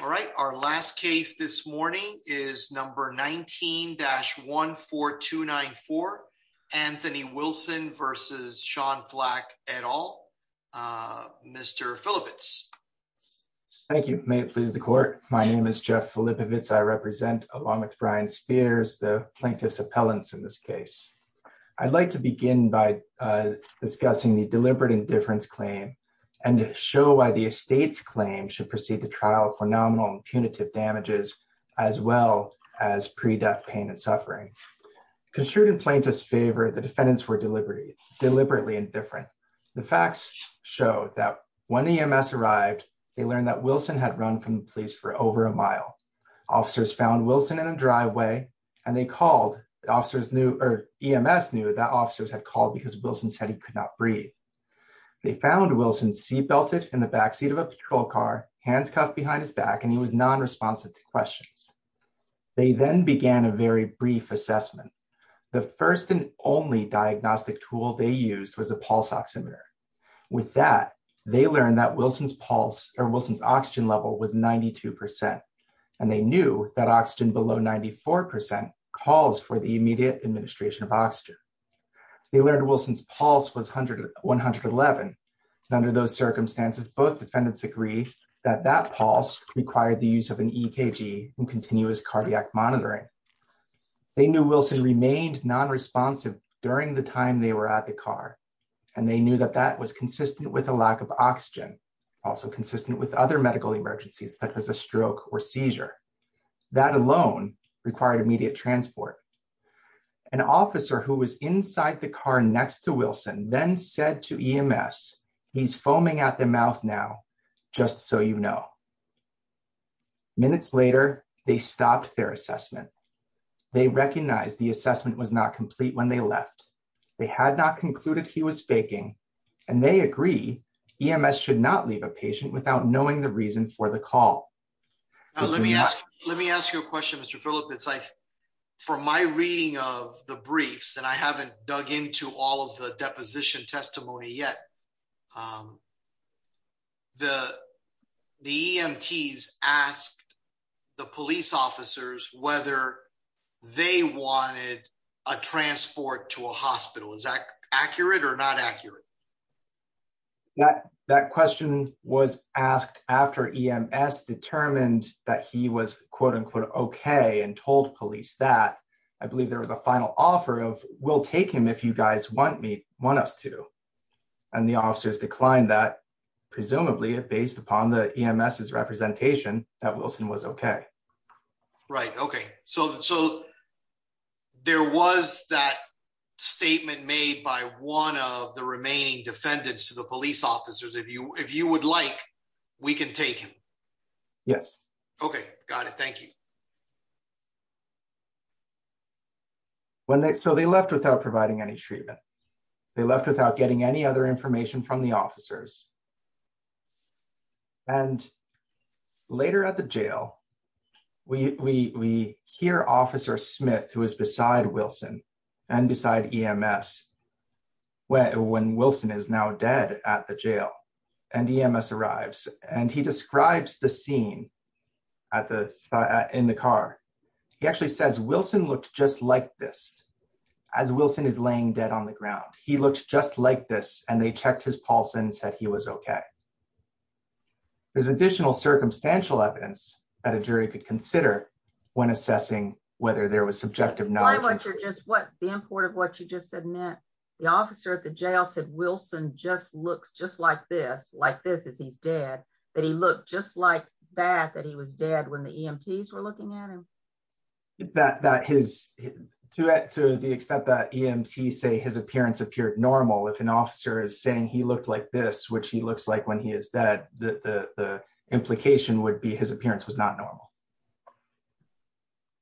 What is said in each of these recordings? All right, our last case this morning is number 19-14294. Anthony Wilson v. Sean Flack et al. Mr. Filippovits. Thank you. May it please the court. My name is Jeff Filippovits. I represent Alamut Brian Spears, the plaintiff's appellant in this case. I'd like to begin by discussing the deliberate indifference claim and to show why the estate's claim should proceed to trial for nominal and punitive damages as well as pre-death pain and suffering. Construed in plaintiff's favor, the defendants were deliberately indifferent. The facts show that when EMS arrived, they learned that Wilson had run from the police for over a mile. Officers found Wilson in a They found Wilson seat belted in the backseat of a patrol car, hands cuffed behind his back, and he was non-responsive to questions. They then began a very brief assessment. The first and only diagnostic tool they used was a pulse oximeter. With that, they learned that Wilson's pulse or Wilson's oxygen level was 92 percent, and they knew that oxygen below 94 percent calls for the immediate administration of oxygen. They learned Wilson's pulse was 111, and under those circumstances, both defendants agree that that pulse required the use of an EKG and continuous cardiac monitoring. They knew Wilson remained non-responsive during the time they were at the car, and they knew that that was consistent with a lack of oxygen, also consistent with other medical emergencies such as a stroke or seizure. That alone required immediate transport. An officer who was inside the car next to Wilson then said to EMS, he's foaming at the mouth now, just so you know. Minutes later, they stopped their assessment. They recognized the assessment was not complete when they left. They had not concluded he was faking, and they agree EMS should not leave a patient without knowing the reason for the call. Let me ask you a question, Mr. Philip. It's like, from my reading of the briefs, and I haven't dug into all of the deposition testimony yet, the EMTs asked the police officers whether they wanted a transport to a hospital. Is that accurate or not accurate? That question was asked after EMS determined that he was quote-unquote okay and told police that. I believe there was a final offer of, we'll take him if you guys want us to. And the officers declined that, presumably based upon the EMS's representation that Wilson was okay. Right. Okay. So there was that statement made by one of the remaining defendants to the police officers. If you would like, we can take him. Yes. Okay. Got it. Thank you. So they left without providing any treatment. They left without getting any other information from the officers. And later at the jail, we hear Officer Smith, who is beside Wilson and beside EMS, when Wilson is now dead at the jail, and EMS arrives, and he describes the scene in the car. He actually says, Wilson looked just like this as Wilson is laying dead on the ground. He looked just like this. And they checked his pulse and said he was okay. There's additional circumstantial evidence that a jury could consider when assessing whether there was subjective knowledge. I wonder just what the import of what you just said meant. The officer at the jail said, Wilson just looks just like this, like this as he's dead, that he looked just like that, that he was dead when the EMTs were looking at him. That his, to the extent that EMTs say his appearance appeared normal, if an officer is saying he looked like this, which he looks like when he is dead, the implication would be his appearance was not normal.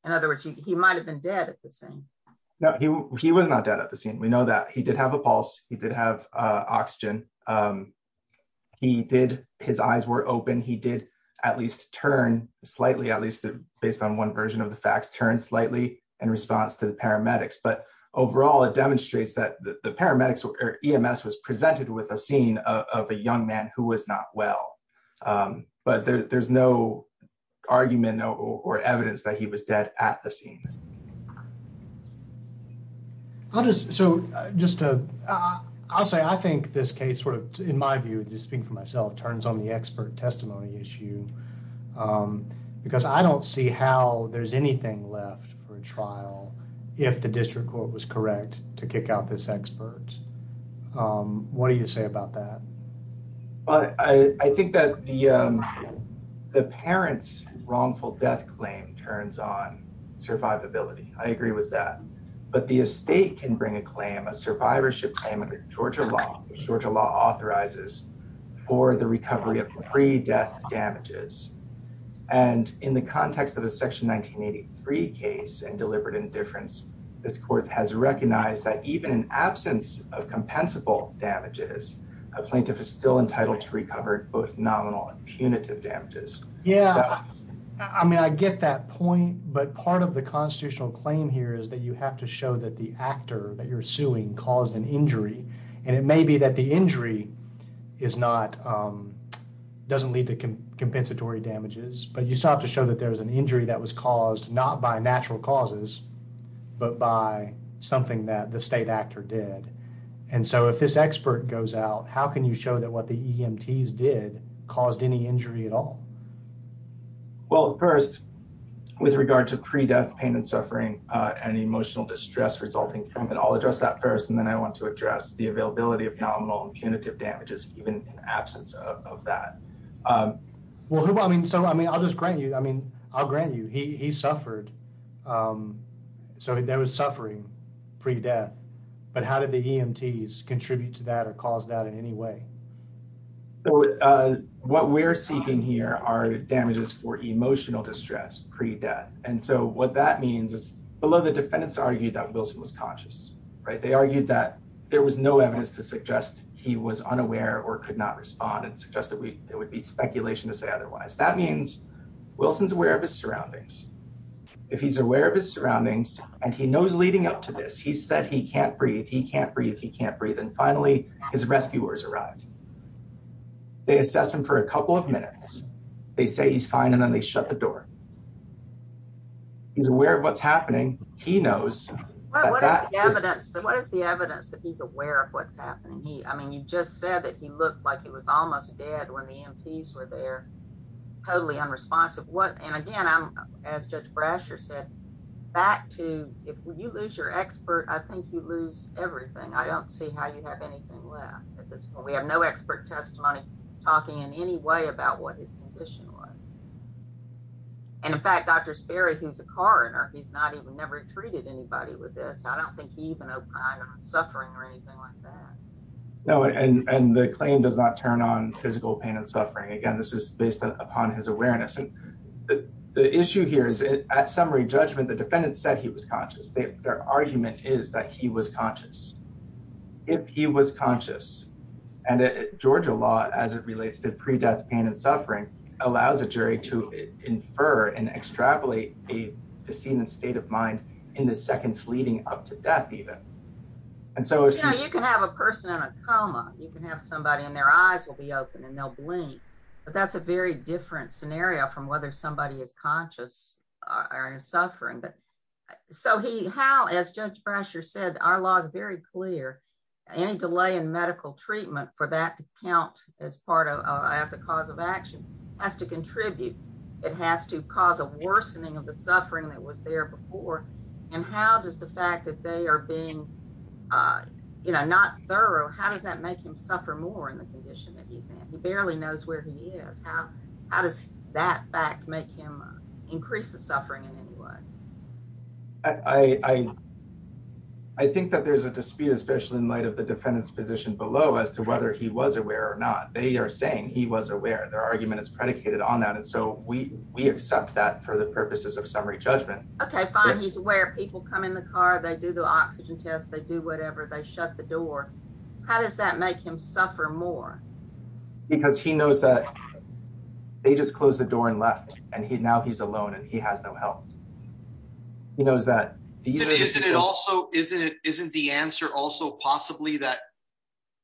In other words, he might have been dead at the scene. No, he was not dead at the scene. We know that. He did have a pulse. He did have oxygen. He did, his eyes were open. He did at least turn slightly, at least based on one version of the facts, turn slightly in response to the paramedics. But overall, it demonstrates that the paramedics or EMS was presented with a scene of a young man who was not well. But there's no argument or evidence that he was dead at the scene. I'll just, so just to, I'll say, I think this case sort of, in my view, just speaking for for a trial, if the district court was correct to kick out this expert, what do you say about that? Well, I think that the, the parent's wrongful death claim turns on survivability. I agree with that. But the estate can bring a claim, a survivorship claim under Georgia law, which Georgia law authorizes for the recovery of pre-death damages. And in the context of a section 1983 case and deliberate indifference, this court has recognized that even in absence of compensable damages, a plaintiff is still entitled to recover both nominal and punitive damages. Yeah, I mean, I get that point. But part of the constitutional claim here is that you have to show that the actor that you're suing caused an injury. And it may be that the injury is not, doesn't lead to compensatory damages, but you still have to show that there was an injury that was caused not by natural causes, but by something that the state actor did. And so if this expert goes out, how can you show that what the EMTs did caused any injury at all? Well, first, with regard to pre-death pain and suffering and emotional distress resulting from it, I'll address that first. And then I want to address the availability of nominal and punitive damages, even in absence of that. Well, I mean, so I mean, I'll just grant you, I mean, I'll grant you he suffered. So there was suffering pre-death, but how did the EMTs contribute to that or cause that in any way? So what we're seeking here are damages for emotional distress pre-death. And so what that means is below the defendants argued that Wilson was conscious, right? They argued that there was no evidence to suggest he was unaware or could not respond and suggest that it would be speculation to say otherwise. That means Wilson's aware of his surroundings. If he's aware of his surroundings and he knows leading up to this, he said he can't breathe, he can't breathe, he can't breathe. And finally his rescuers arrived. They assess him for a couple of minutes. They say he's fine. And then they shut the door. He's aware of what's happening. He knows. What is the evidence that he's aware of what's happening? He, I mean, you just said that he looked like he was almost dead when the EMTs were there. Totally unresponsive. What, and again, I'm, as Judge Brasher said, back to, if you lose your expert, I think you lose everything. I don't see how you have anything left at this point. We have no expert testimony talking in any way about what his condition was. And in fact, Dr. Sperry, who's a coroner, he's not even never treated anybody with this. I don't think he even opined on suffering or anything like that. No, and the claim does not turn on physical pain and suffering. Again, this is based upon his awareness. And the issue here is at summary judgment, the defendant said he was conscious. Their argument is that he was conscious. If he was conscious, and Georgia law, as it relates to pre-death pain and suffering, allows a jury to infer and extrapolate the scene and state of mind in the seconds leading up to death, even. And so, you know, you can have a person in a coma, you can have somebody and their eyes will be open and they'll blink. But that's a very different scenario from whether somebody is conscious or suffering. But so he, how, as Judge Brasher said, our law is very clear. Any delay in medical treatment for that to count as part of the cause of action. Has to contribute. It has to cause a worsening of the suffering that was there before. And how does the fact that they are being, you know, not thorough, how does that make him suffer more in the condition that he's in? He barely knows where he is. How does that fact make him increase the suffering in any way? I think that there's a dispute, especially in light of the defendant's position below, as to whether he was aware or not. They are saying he was aware. Their argument is predicated on that. And so we, we accept that for the purposes of summary judgment. Okay, fine. He's aware people come in the car. They do the oxygen test. They do whatever. They shut the door. How does that make him suffer more? Because he knows that they just closed the door and left and he now he's alone and he has no help. He knows that. Isn't it? Isn't the answer also possibly that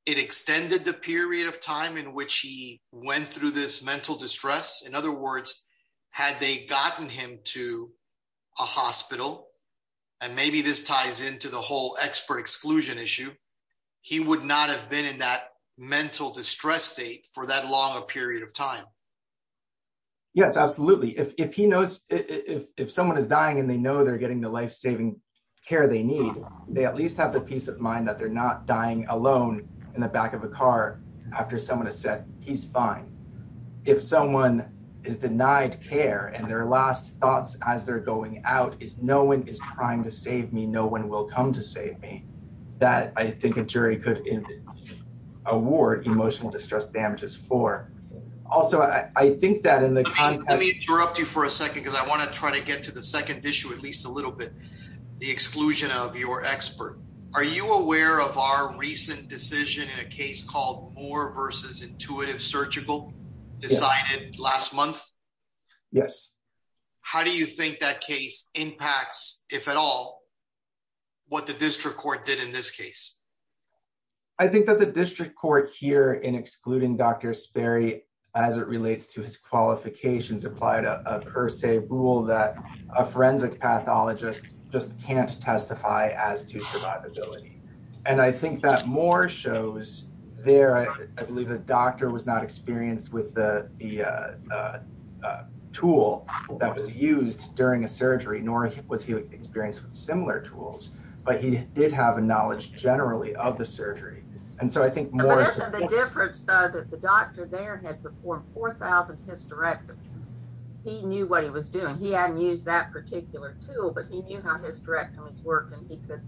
it extended the period of time in which he went through this mental distress. In other words, had they gotten him to a hospital and maybe this ties into the whole expert exclusion issue, he would not have been in that mental distress state for that long a period of time. Yes, absolutely. If, if he knows if, if someone is dying and they know they're getting the lifesaving care they need, they at least have the peace of mind that they're not dying alone in the back of a car after someone has said he's fine. If someone is denied care and their last thoughts as they're going out is no one is trying to save me. No one will come to save me. That I think a jury could award emotional distress damages for. Also, I think that in the context. Let me interrupt you for a second because I want to try to get to the second issue, at least a little bit. The exclusion of your expert. Are you aware of our recent decision in a case called more versus intuitive surgical decided last month? Yes. How do you think that case impacts, if at all, what the district court did in this case? I think that the district court here in excluding Dr. Sperry, as it relates to his qualifications, applied a per se rule that a forensic pathologist just can't testify as to survivability. And I think that more shows there. I believe the doctor was not experienced with the tool that was used during a surgery, nor was he experienced with similar tools, but he did have a knowledge generally of the surgery. And so I think the difference that the doctor there had performed 4000 hysterectomies. He knew what he was doing. He hadn't used that particular tool, but he knew how hysterectomies work, and he could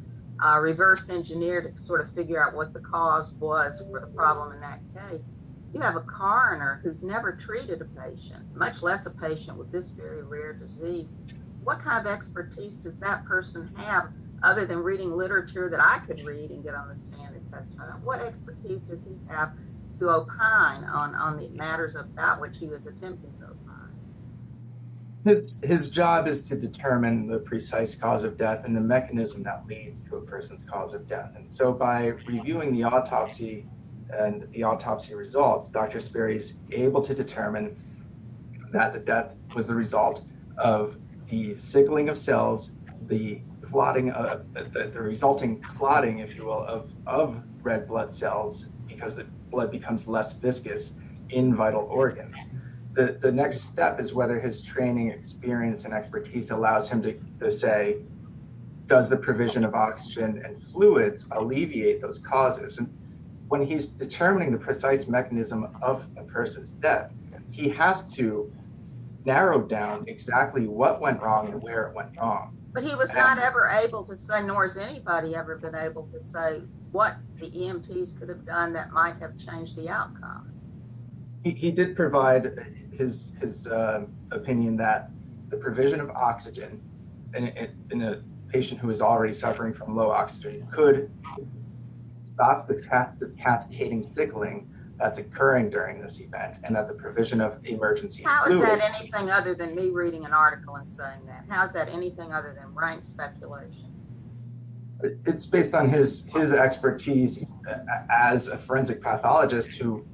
reverse engineer to sort of figure out what the cause was for the problem in that case. You have a coroner who's never treated a patient, much less a patient with this very rare disease. What kind of expertise does that person have other than reading literature that I could read and get on the stand and testify? What expertise does he have to opine on the matters about which he was attempting to opine? His job is to determine the precise cause of death and the mechanism that leads to a person's cause of death. And so by reviewing the autopsy and the autopsy results, Dr. Sperry is able to determine that the death was the result of the signaling of cells, the resulting clotting, if you will, of red blood cells because the blood becomes less viscous in vital organs. The next step is whether his training experience and expertise allows him to say, does the provision of oxygen and fluids alleviate those causes? When he's determining the precise mechanism of a person's death, he has to narrow down exactly what went wrong and where it went wrong. But he was not ever able to say, nor has anybody ever been able to say, what the EMTs could have done that might have changed the outcome. He did provide his opinion that the provision of oxygen in a patient who is already suffering from low oxygen could stop the catechating sickling that's occurring during this event and that the provision of emergency fluids- How is that anything other than me reading an article and saying that? How is that anything other than rank speculation? It's based on his expertise as a forensic pathologist who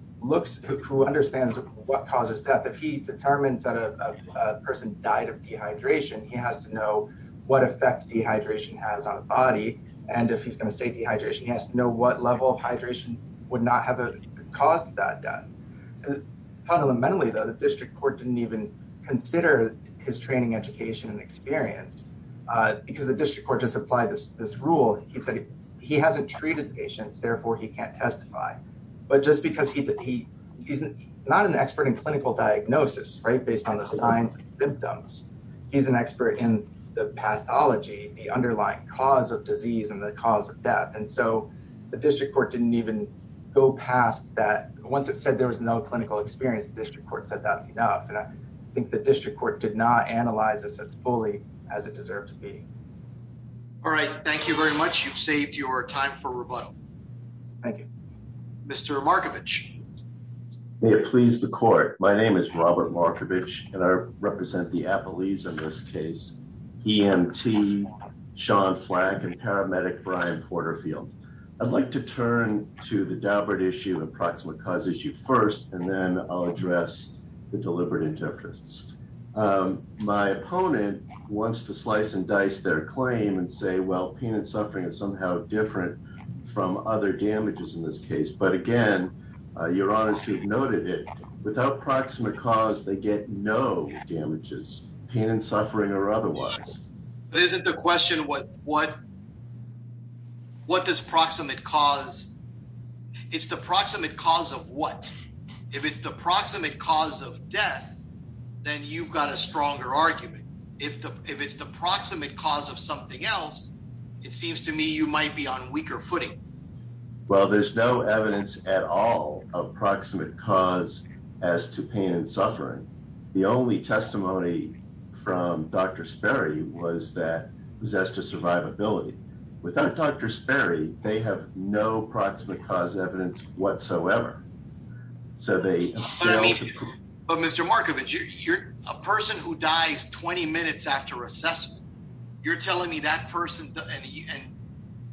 understands what causes death. If he determines that a person died of dehydration, he has to know what effect dehydration has on the body. And if he's going to say dehydration, he has to know what level of hydration would not have caused that death. Fundamentally, though, the district court didn't even consider his training, education, and experience because the district court just applied this rule. He said he hasn't treated patients, therefore he can't testify. But just because he's not an expert in clinical diagnosis based on the signs and symptoms, he's an expert in the pathology, the underlying cause of disease, and the cause of death. And so the district court didn't even go past that. Once it said there was no clinical experience, the district court said that's enough. I think the district court did not analyze this as fully as it deserved to be. All right. Thank you very much. You've saved your time for rebuttal. Thank you. Mr. Markovich. May it please the court. My name is Robert Markovich, and I represent the Appalachians in this case. EMT, Sean Flack, and paramedic Brian Porterfield. I'd like to turn to the Daubert issue and the approximate cause issue first, and then I'll address the deliberate interference. My opponent wants to slice and dice their claim and say, well, pain and suffering is somehow different from other damages in this case. But again, your Honor should have noted it. Without proximate cause, they get no damages, pain and suffering or otherwise. But isn't the question, what does proximate cause? It's the proximate cause of what? If it's the proximate cause of death, then you've got a stronger argument. If it's the proximate cause of something else, it seems to me you might be on weaker footing. Well, there's no evidence at all of proximate cause as to pain and suffering. The only testimony from Dr. Sperry was that possessed to survivability. Without Dr. Sperry, they have no proximate cause evidence whatsoever. So they- But Mr. Markovich, you're a person who dies 20 minutes after assessment. You're telling me that person, and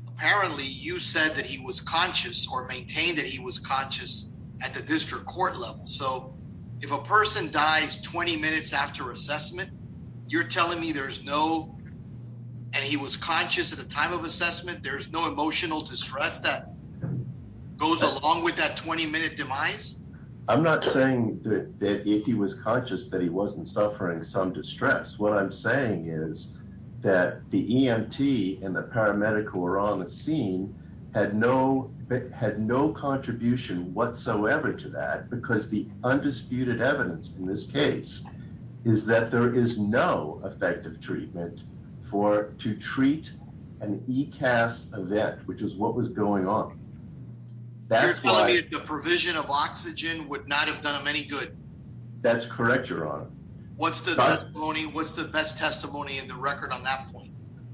apparently you said that he was conscious or maintained that he was conscious at the district court level. So if a person dies 20 minutes after assessment, you're telling me there's no, and he was conscious at the time of assessment, there's no emotional distress that goes along with that 20-minute demise? I'm not saying that if he was conscious that he wasn't suffering some distress. What I'm saying is that the EMT and the paramedic who were on the scene had no contribution whatsoever to that because the undisputed evidence in this case is that there is no effective treatment for, to treat an ECAS event, which is what was going on. You're telling me the provision of oxygen would not have done him any good? That's correct, your honor. What's the testimony? What's the best testimony in the record on that point?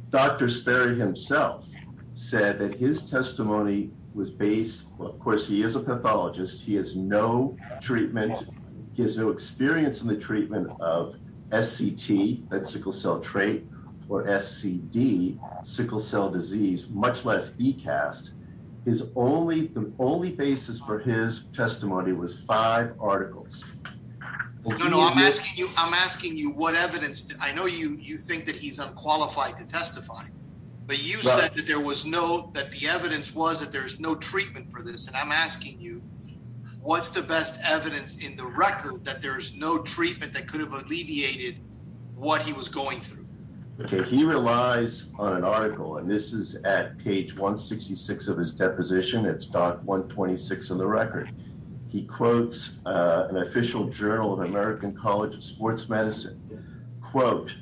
Dr. Sperry himself said that his testimony was based, of course, he is a pathologist. He has no treatment. He has no experience in the treatment of SCT, that sickle cell trait, or SCD, sickle cell disease, much less ECAS, his only, the only basis for his testimony was five articles. No, no, I'm asking you, I'm asking you what evidence, I know you, you think that he's unqualified to testify, but you said that there was no, that the evidence was that there's no treatment for this. And I'm asking you, what's the best evidence in the record that there's no treatment that could have alleviated what he was going through? Okay, he relies on an article, and this is at page 166 of his deposition, it's doc 126 of the record. He quotes an official journal of American College of Sports Medicine, quote,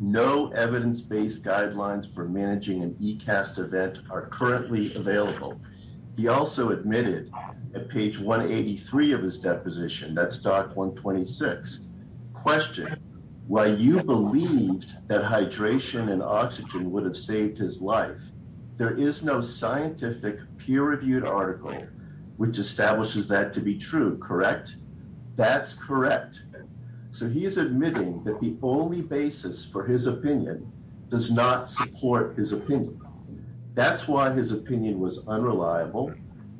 no evidence based guidelines for managing an ECAST event are currently available. He also admitted at page 183 of his deposition, that's doc 126, question, why you believed that hydration and oxygen would have saved his life. There is no scientific peer reviewed article, which establishes that to be true, correct? That's correct. So he's admitting that the only basis for his opinion does not support his opinion. That's why his opinion was unreliable,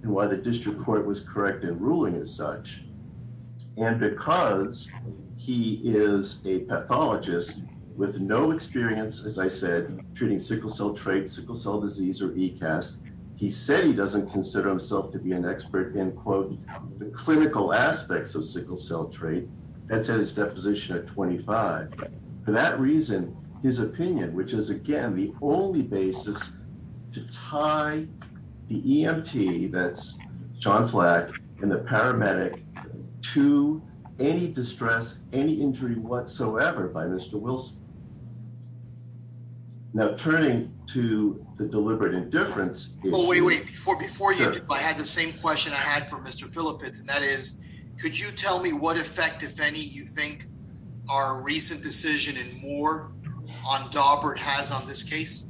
and why the district court was correct in ruling as such. And because he is a pathologist with no experience, as I said, treating sickle cell trait, sickle cell disease, or ECAST, he said he doesn't consider himself to be an expert in quote, the clinical aspects of sickle cell trait. That's at his deposition at 25. For that reason, his opinion, which is again, the only basis to tie the EMT, that's John to any distress, any injury whatsoever by Mr. Wilson. Now, turning to the deliberate indifference. Well, wait, wait, before before you, I had the same question I had for Mr. Philip, and that is, could you tell me what effect, if any, you think our recent decision in Moore on Daubert has on this case?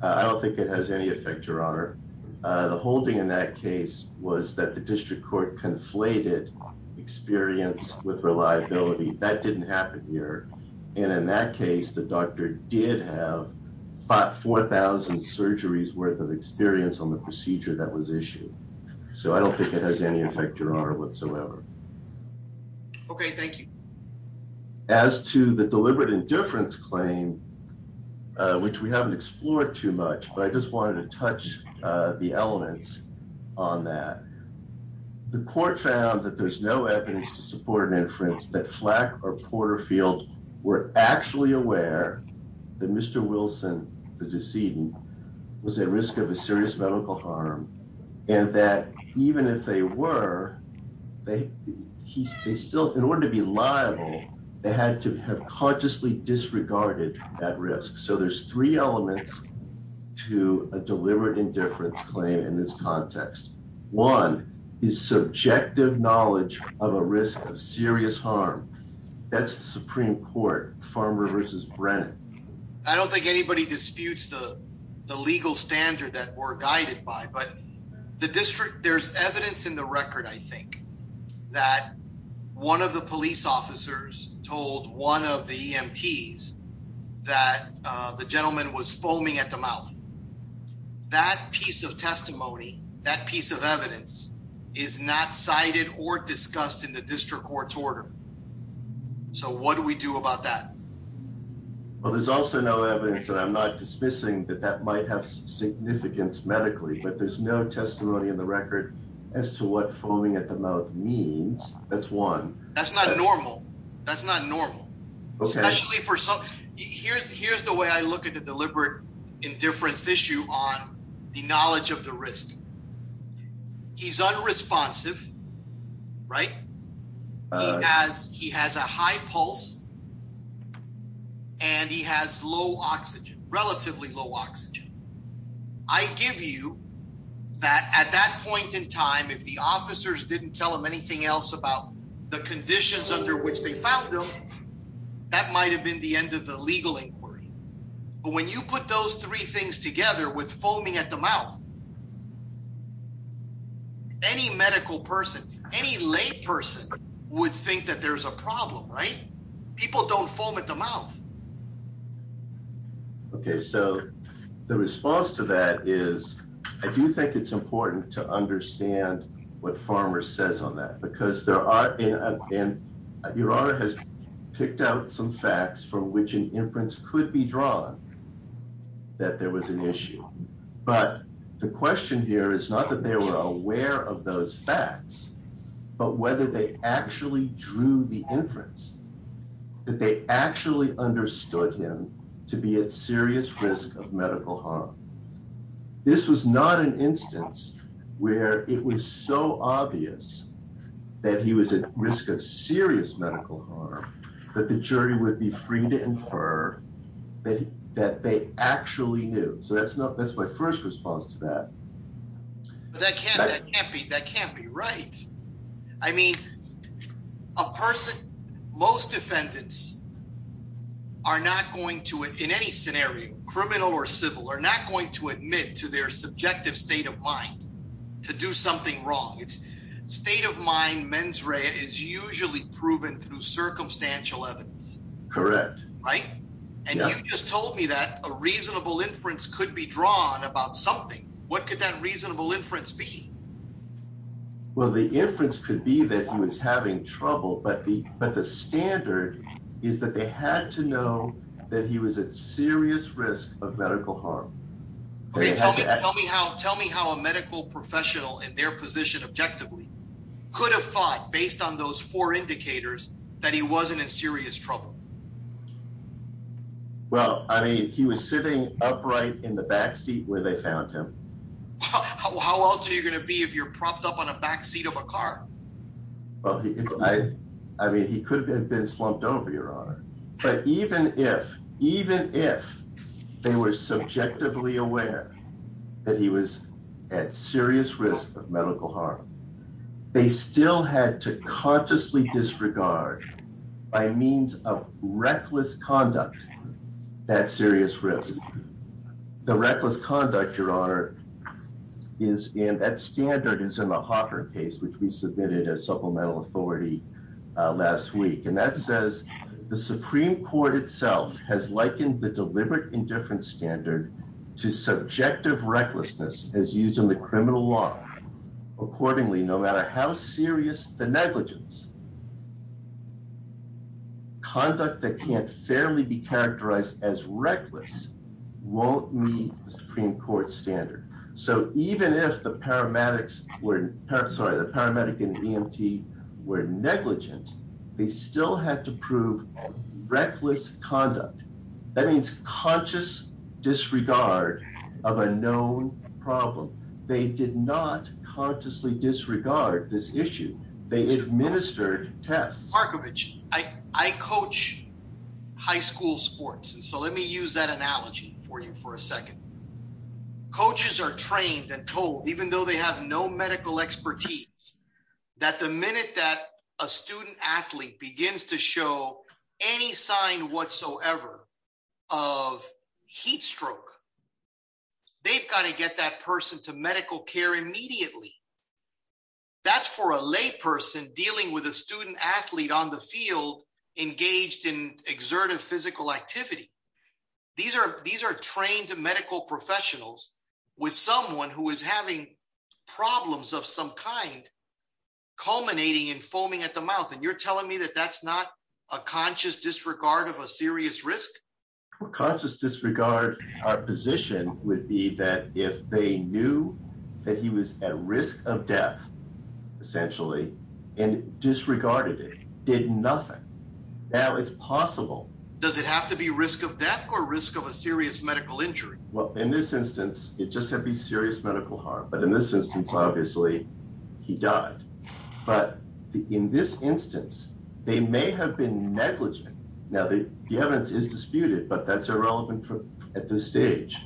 The holding in that case was that the district court conflated experience with reliability. That didn't happen here. And in that case, the doctor did have about 4,000 surgeries worth of experience on the procedure that was issued. So I don't think it has any effect whatsoever. Okay, thank you. As to the deliberate indifference claim, which we haven't explored too much, but I just want to touch the elements on that. The court found that there's no evidence to support an inference that Flack or Porterfield were actually aware that Mr. Wilson, the decedent, was at risk of a serious medical harm and that even if they were, they still, in order to be liable, they had to have consciously disregarded that risk. So there's three elements to a deliberate indifference claim in this context. One is subjective knowledge of a risk of serious harm. That's the Supreme Court, Farmer versus Brennan. I don't think anybody disputes the legal standard that we're guided by, but the district, there's evidence in the record, I think, that one of the police officers told one of the EMTs that the gentleman was foaming at the mouth. That piece of testimony, that piece of evidence is not cited or discussed in the district court's order. So what do we do about that? Well, there's also no evidence, and I'm not dismissing that that might have significance medically, but there's no testimony in the record as to what foaming at the mouth means. That's one. That's not normal. That's not normal. Especially for some. Here's the way I look at the deliberate indifference issue on the knowledge of the risk. He's unresponsive, right? He has a high pulse, and he has low oxygen, relatively low oxygen. I give you that at that point in time, if the officers didn't tell him anything else the conditions under which they found him, that might have been the end of the legal inquiry. But when you put those three things together with foaming at the mouth, any medical person, any lay person would think that there's a problem, right? People don't foam at the mouth. Okay. So the response to that is I do think it's important to understand what Farmer says on because there are in your honor has picked out some facts from which an inference could be drawn that there was an issue. But the question here is not that they were aware of those facts, but whether they actually drew the inference that they actually understood him to be at serious risk of medical harm. This was not an instance where it was so obvious that he was at risk of serious medical harm that the jury would be free to infer that they actually knew. So that's my first response to that. That can't be right. I mean, a person, most defendants are not going to, in any scenario, criminal or civil, are not going to admit to their subjective state of mind to do something wrong. State of mind mens rea is usually proven through circumstantial evidence. Correct, right? And you just told me that a reasonable inference could be drawn about something. What could that reasonable inference be? Well, the inference could be that he was having trouble, but the standard is that they had to know that he was at serious risk of medical harm. Tell me how a medical professional in their position objectively could have thought, based on those four indicators, that he wasn't in serious trouble. Well, I mean, he was sitting upright in the backseat where they found him. How else are you going to be if you're propped up on a backseat of a car? Well, I mean, he could have been slumped over, Your Honor. But even if, even if they were subjectively aware that he was at serious risk of medical harm, they still had to consciously disregard, by means of reckless conduct, that serious risk. The reckless conduct, Your Honor, is in, that standard is in the Hopper case, which we submitted as supplemental authority last week. And that says, the Supreme Court itself has likened the deliberate indifference standard to subjective recklessness as used in the criminal law. Accordingly, no matter how serious the negligence, conduct that can't fairly be characterized as reckless won't meet the Supreme Court standard. So even if the paramedics were, sorry, the paramedic and EMT were negligent, they still had to prove reckless conduct. That means conscious disregard of a known problem. They did not consciously disregard this issue. They administered tests. Markovich, I coach high school sports. And so let me use that analogy for you for a second. Coaches are trained and told, even though they have no medical expertise, that the minute that a student athlete begins to show any sign whatsoever of heat stroke, they've got to get that person to medical care immediately. That's for a lay person dealing with a student athlete on the field, engaged in exertive physical activity. These are trained medical professionals with someone who is having problems of some kind culminating in foaming at the mouth. And you're telling me that that's not a conscious disregard of a serious risk? Conscious disregard. Our position would be that if they knew that he was at risk of death, essentially, and disregarded it, did nothing. Now it's possible. Does it have to be risk of death or risk of a serious medical injury? Well, in this instance, it just had to be serious medical harm. But in this instance, obviously, he died. But in this instance, they may have been negligent. Now, the evidence is disputed, but that's irrelevant at this stage.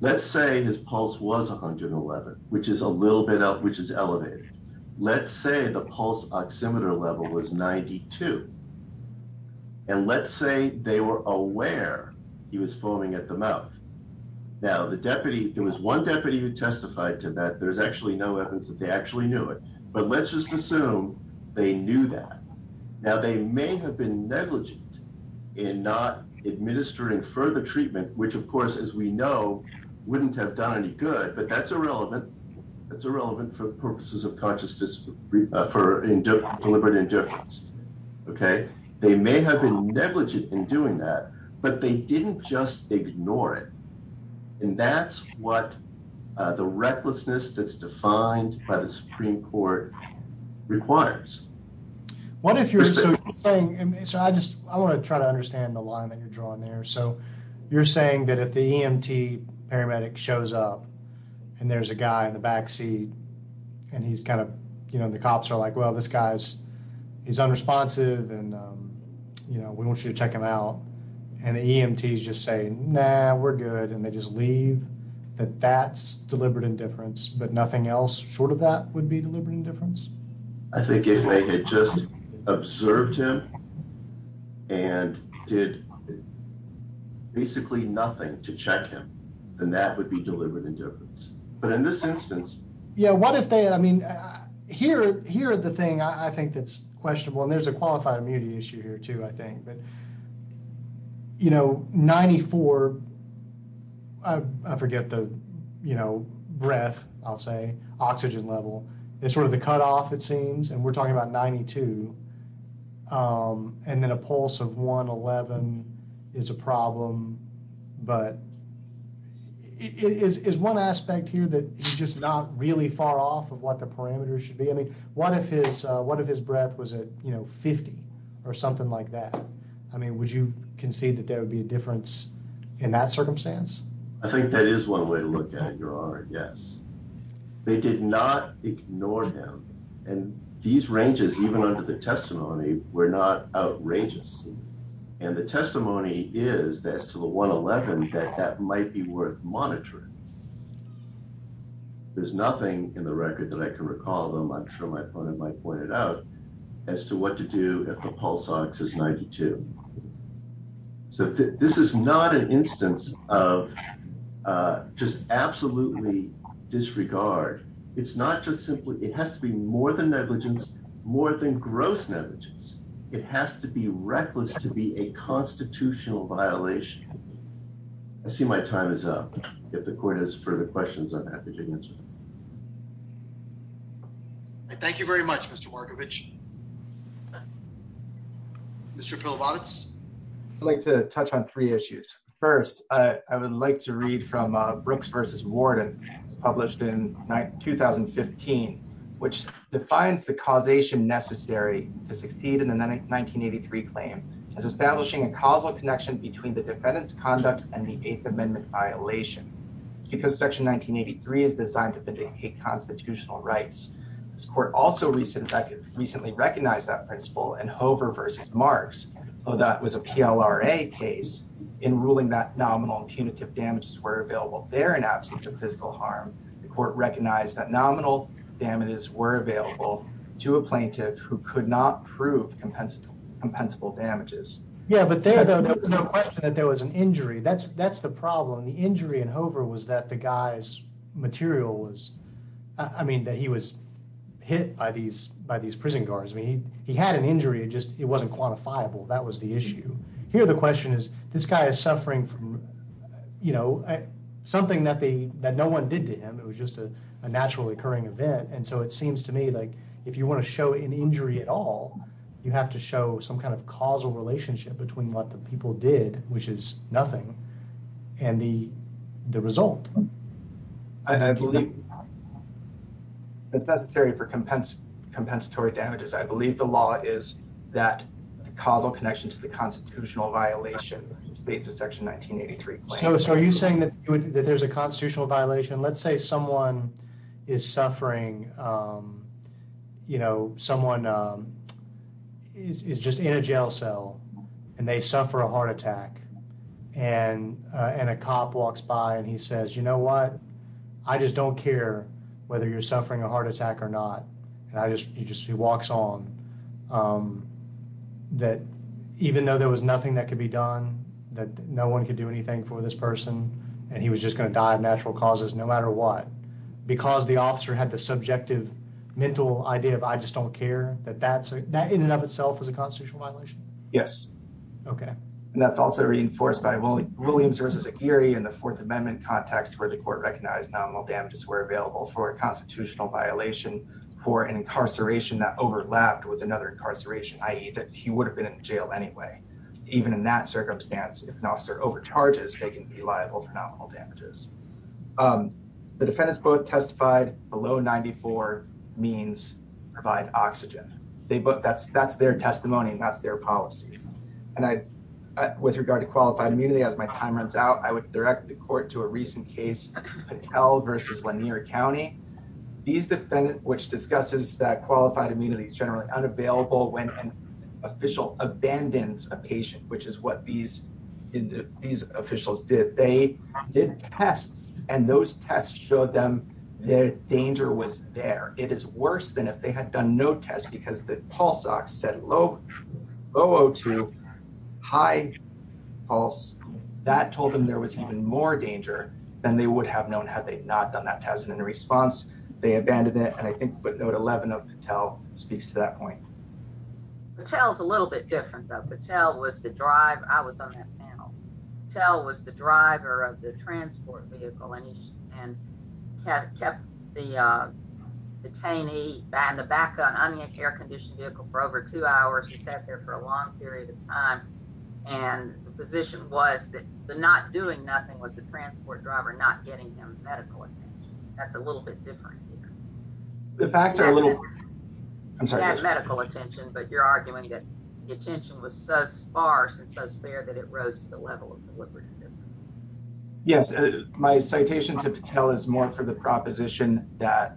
Let's say his pulse was 111, which is a little bit up, which is elevated. Let's say the pulse oximeter level was 92. And let's say they were aware he was foaming at the mouth. Now, there was one deputy who testified to that. There's actually no evidence that they actually knew it. But let's just assume they knew that. Now, they may have been negligent in not administering further treatment, which, of course, as we know, wouldn't have done any good. But that's irrelevant. That's irrelevant for purposes of deliberate indifference. OK, they may have been negligent in doing that, but they didn't just ignore it. And that's what the recklessness that's defined by the Supreme Court requires. What if you're saying, I just I want to try to understand the line that you're drawing there. So you're saying that if the EMT paramedic shows up and there's a guy in the backseat and he's kind of, you know, the cops are like, well, this guy's he's unresponsive. And, you know, we want you to check him out. And the EMTs just say, no, we're good. And they just leave that that's deliberate indifference. But nothing else short of that would be deliberate indifference. I think if they had just observed him and did basically nothing to check him, then that would be deliberate indifference. But in this instance. Yeah, what if they I mean, here here are the thing I think that's questionable. And there's a qualified immunity issue here, too, I think. But, you know, 94. I forget the, you know, breath, I'll say oxygen level is sort of the cutoff, it seems. And we're talking about 92. And then a pulse of 111 is a problem. But it is one aspect here that is just not really far off of what the parameters should be. I mean, what if his what if his breath was at 50 or something like that? I mean, would you concede that there would be a difference in that circumstance? I think that is one way to look at it, Your Honor. Yes, they did not ignore him. And these ranges, even under the testimony, were not outrageous. And the testimony is that to the 111 that that might be worth monitoring. There's nothing in the record that I can recall them. I'm sure my opponent might point it out as to what to do if the pulse ox is 92. So this is not an instance of just absolutely disregard. It's not just simply it has to be more than negligence, more than gross negligence. It has to be reckless to be a constitutional violation. I see my time is up. If the court has further questions, I'm happy to answer. Thank you very much, Mr. Markovic. Mr. Pilovic. I'd like to touch on three issues. First, I would like to read from Brooks versus Warden, published in 2015, which defines the causation necessary to succeed in the 1983 claim as establishing a causal connection between the defendant's conduct and the Eighth Amendment violation. It's because Section 1983 is designed to vindicate constitutional rights. This court also recently recognized that principle in Hover versus Marks. Although that was a PLRA case, in ruling that nominal and punitive damages were available there in absence of physical harm, the court recognized that nominal damages were available to a plaintiff who could not prove compensable damages. Yeah, but there was no question that there was an injury. That's the problem. The injury in Hover was that the guy's material was, I mean, that he was hit by these prison guards. I mean, he had an injury. It wasn't quantifiable. That was the issue. Here, the question is, this guy is suffering from, you know, something that no one did to him. It was just a naturally occurring event. And so it seems to me like if you want to show an injury at all, you have to show some kind of causal relationship between what the people did, which is nothing, and the result. And I believe that's necessary for compensatory damages. I believe the law is that the causal connection to the constitutional violation is dated to Section 1983. Are you saying that there's a constitutional violation? Let's say someone is suffering, you know, someone is just in a jail cell and they suffer a heart attack and a cop walks by and he says, you know what? I just don't care whether you're suffering a heart attack or not. And he just walks on. That even though there was nothing that could be done, that no one could do anything for this person, and he was just going to die of natural causes no matter what, because the officer had the subjective mental idea of I just don't care, that that in and of itself was a constitutional violation? Yes. And that's also reinforced by Williams v. Aguirre in the Fourth Amendment context where the court recognized nominal damages were available for a constitutional violation for an incarceration that overlapped with another incarceration, i.e. that he would have been in jail anyway. Even in that circumstance, if an officer overcharges, they can be liable for nominal damages. The defendants both testified below 94 means provide oxygen. That's their testimony and that's their policy. And with regard to qualified immunity, as my time runs out, I would direct the court to a recent case, Patel v. Lanier County. These defendants, which discusses that qualified immunity is generally unavailable when an official abandons a patient, which is what these officials did. They did tests, and those tests showed them that danger was there. It is worse than if they had done no tests because the pulse ox said low O2, high pulse. That told them there was even more danger than they would have known had they not done that test. And in response, they abandoned it. And I think what note 11 of Patel speaks to that point. Patel's a little bit different, though. Patel was the driver. I was on that panel. Patel was the driver of the transport vehicle and kept the detainee in the back of an un-air-conditioned vehicle for over two hours. He sat there for a long period of time. And the position was that the not doing nothing was the transport driver not getting him medical attention. That's a little bit different here. The facts are a little. I'm sorry. You had medical attention, but you're arguing that the attention was so sparse and so spare that it rose to the level of what we're going to do. Yes, my citation to Patel is more for the proposition that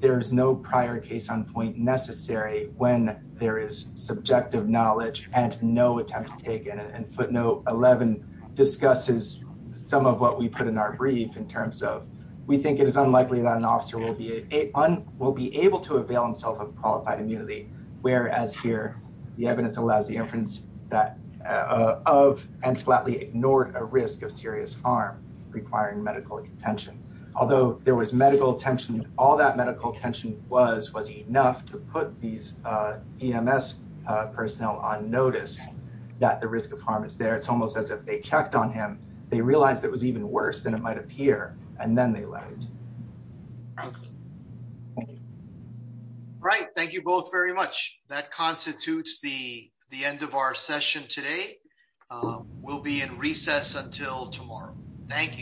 there is no prior case on point necessary when there is subjective knowledge and no attempt to take it. And footnote 11 discusses some of what we put in our brief in terms of, we think it is unlikely that an officer will be able to avail himself of qualified immunity, whereas here the evidence allows the inference that of and flatly ignored a risk of serious harm requiring medical attention. Although there was medical attention, all that medical attention was was enough to put these EMS personnel on notice that the risk of harm is there. It's almost as if they checked on him. They realized it was even worse than it might appear. And then they left. Thank you. Right. Thank you both very much. That constitutes the end of our session today. We'll be in recess until tomorrow. Thank you.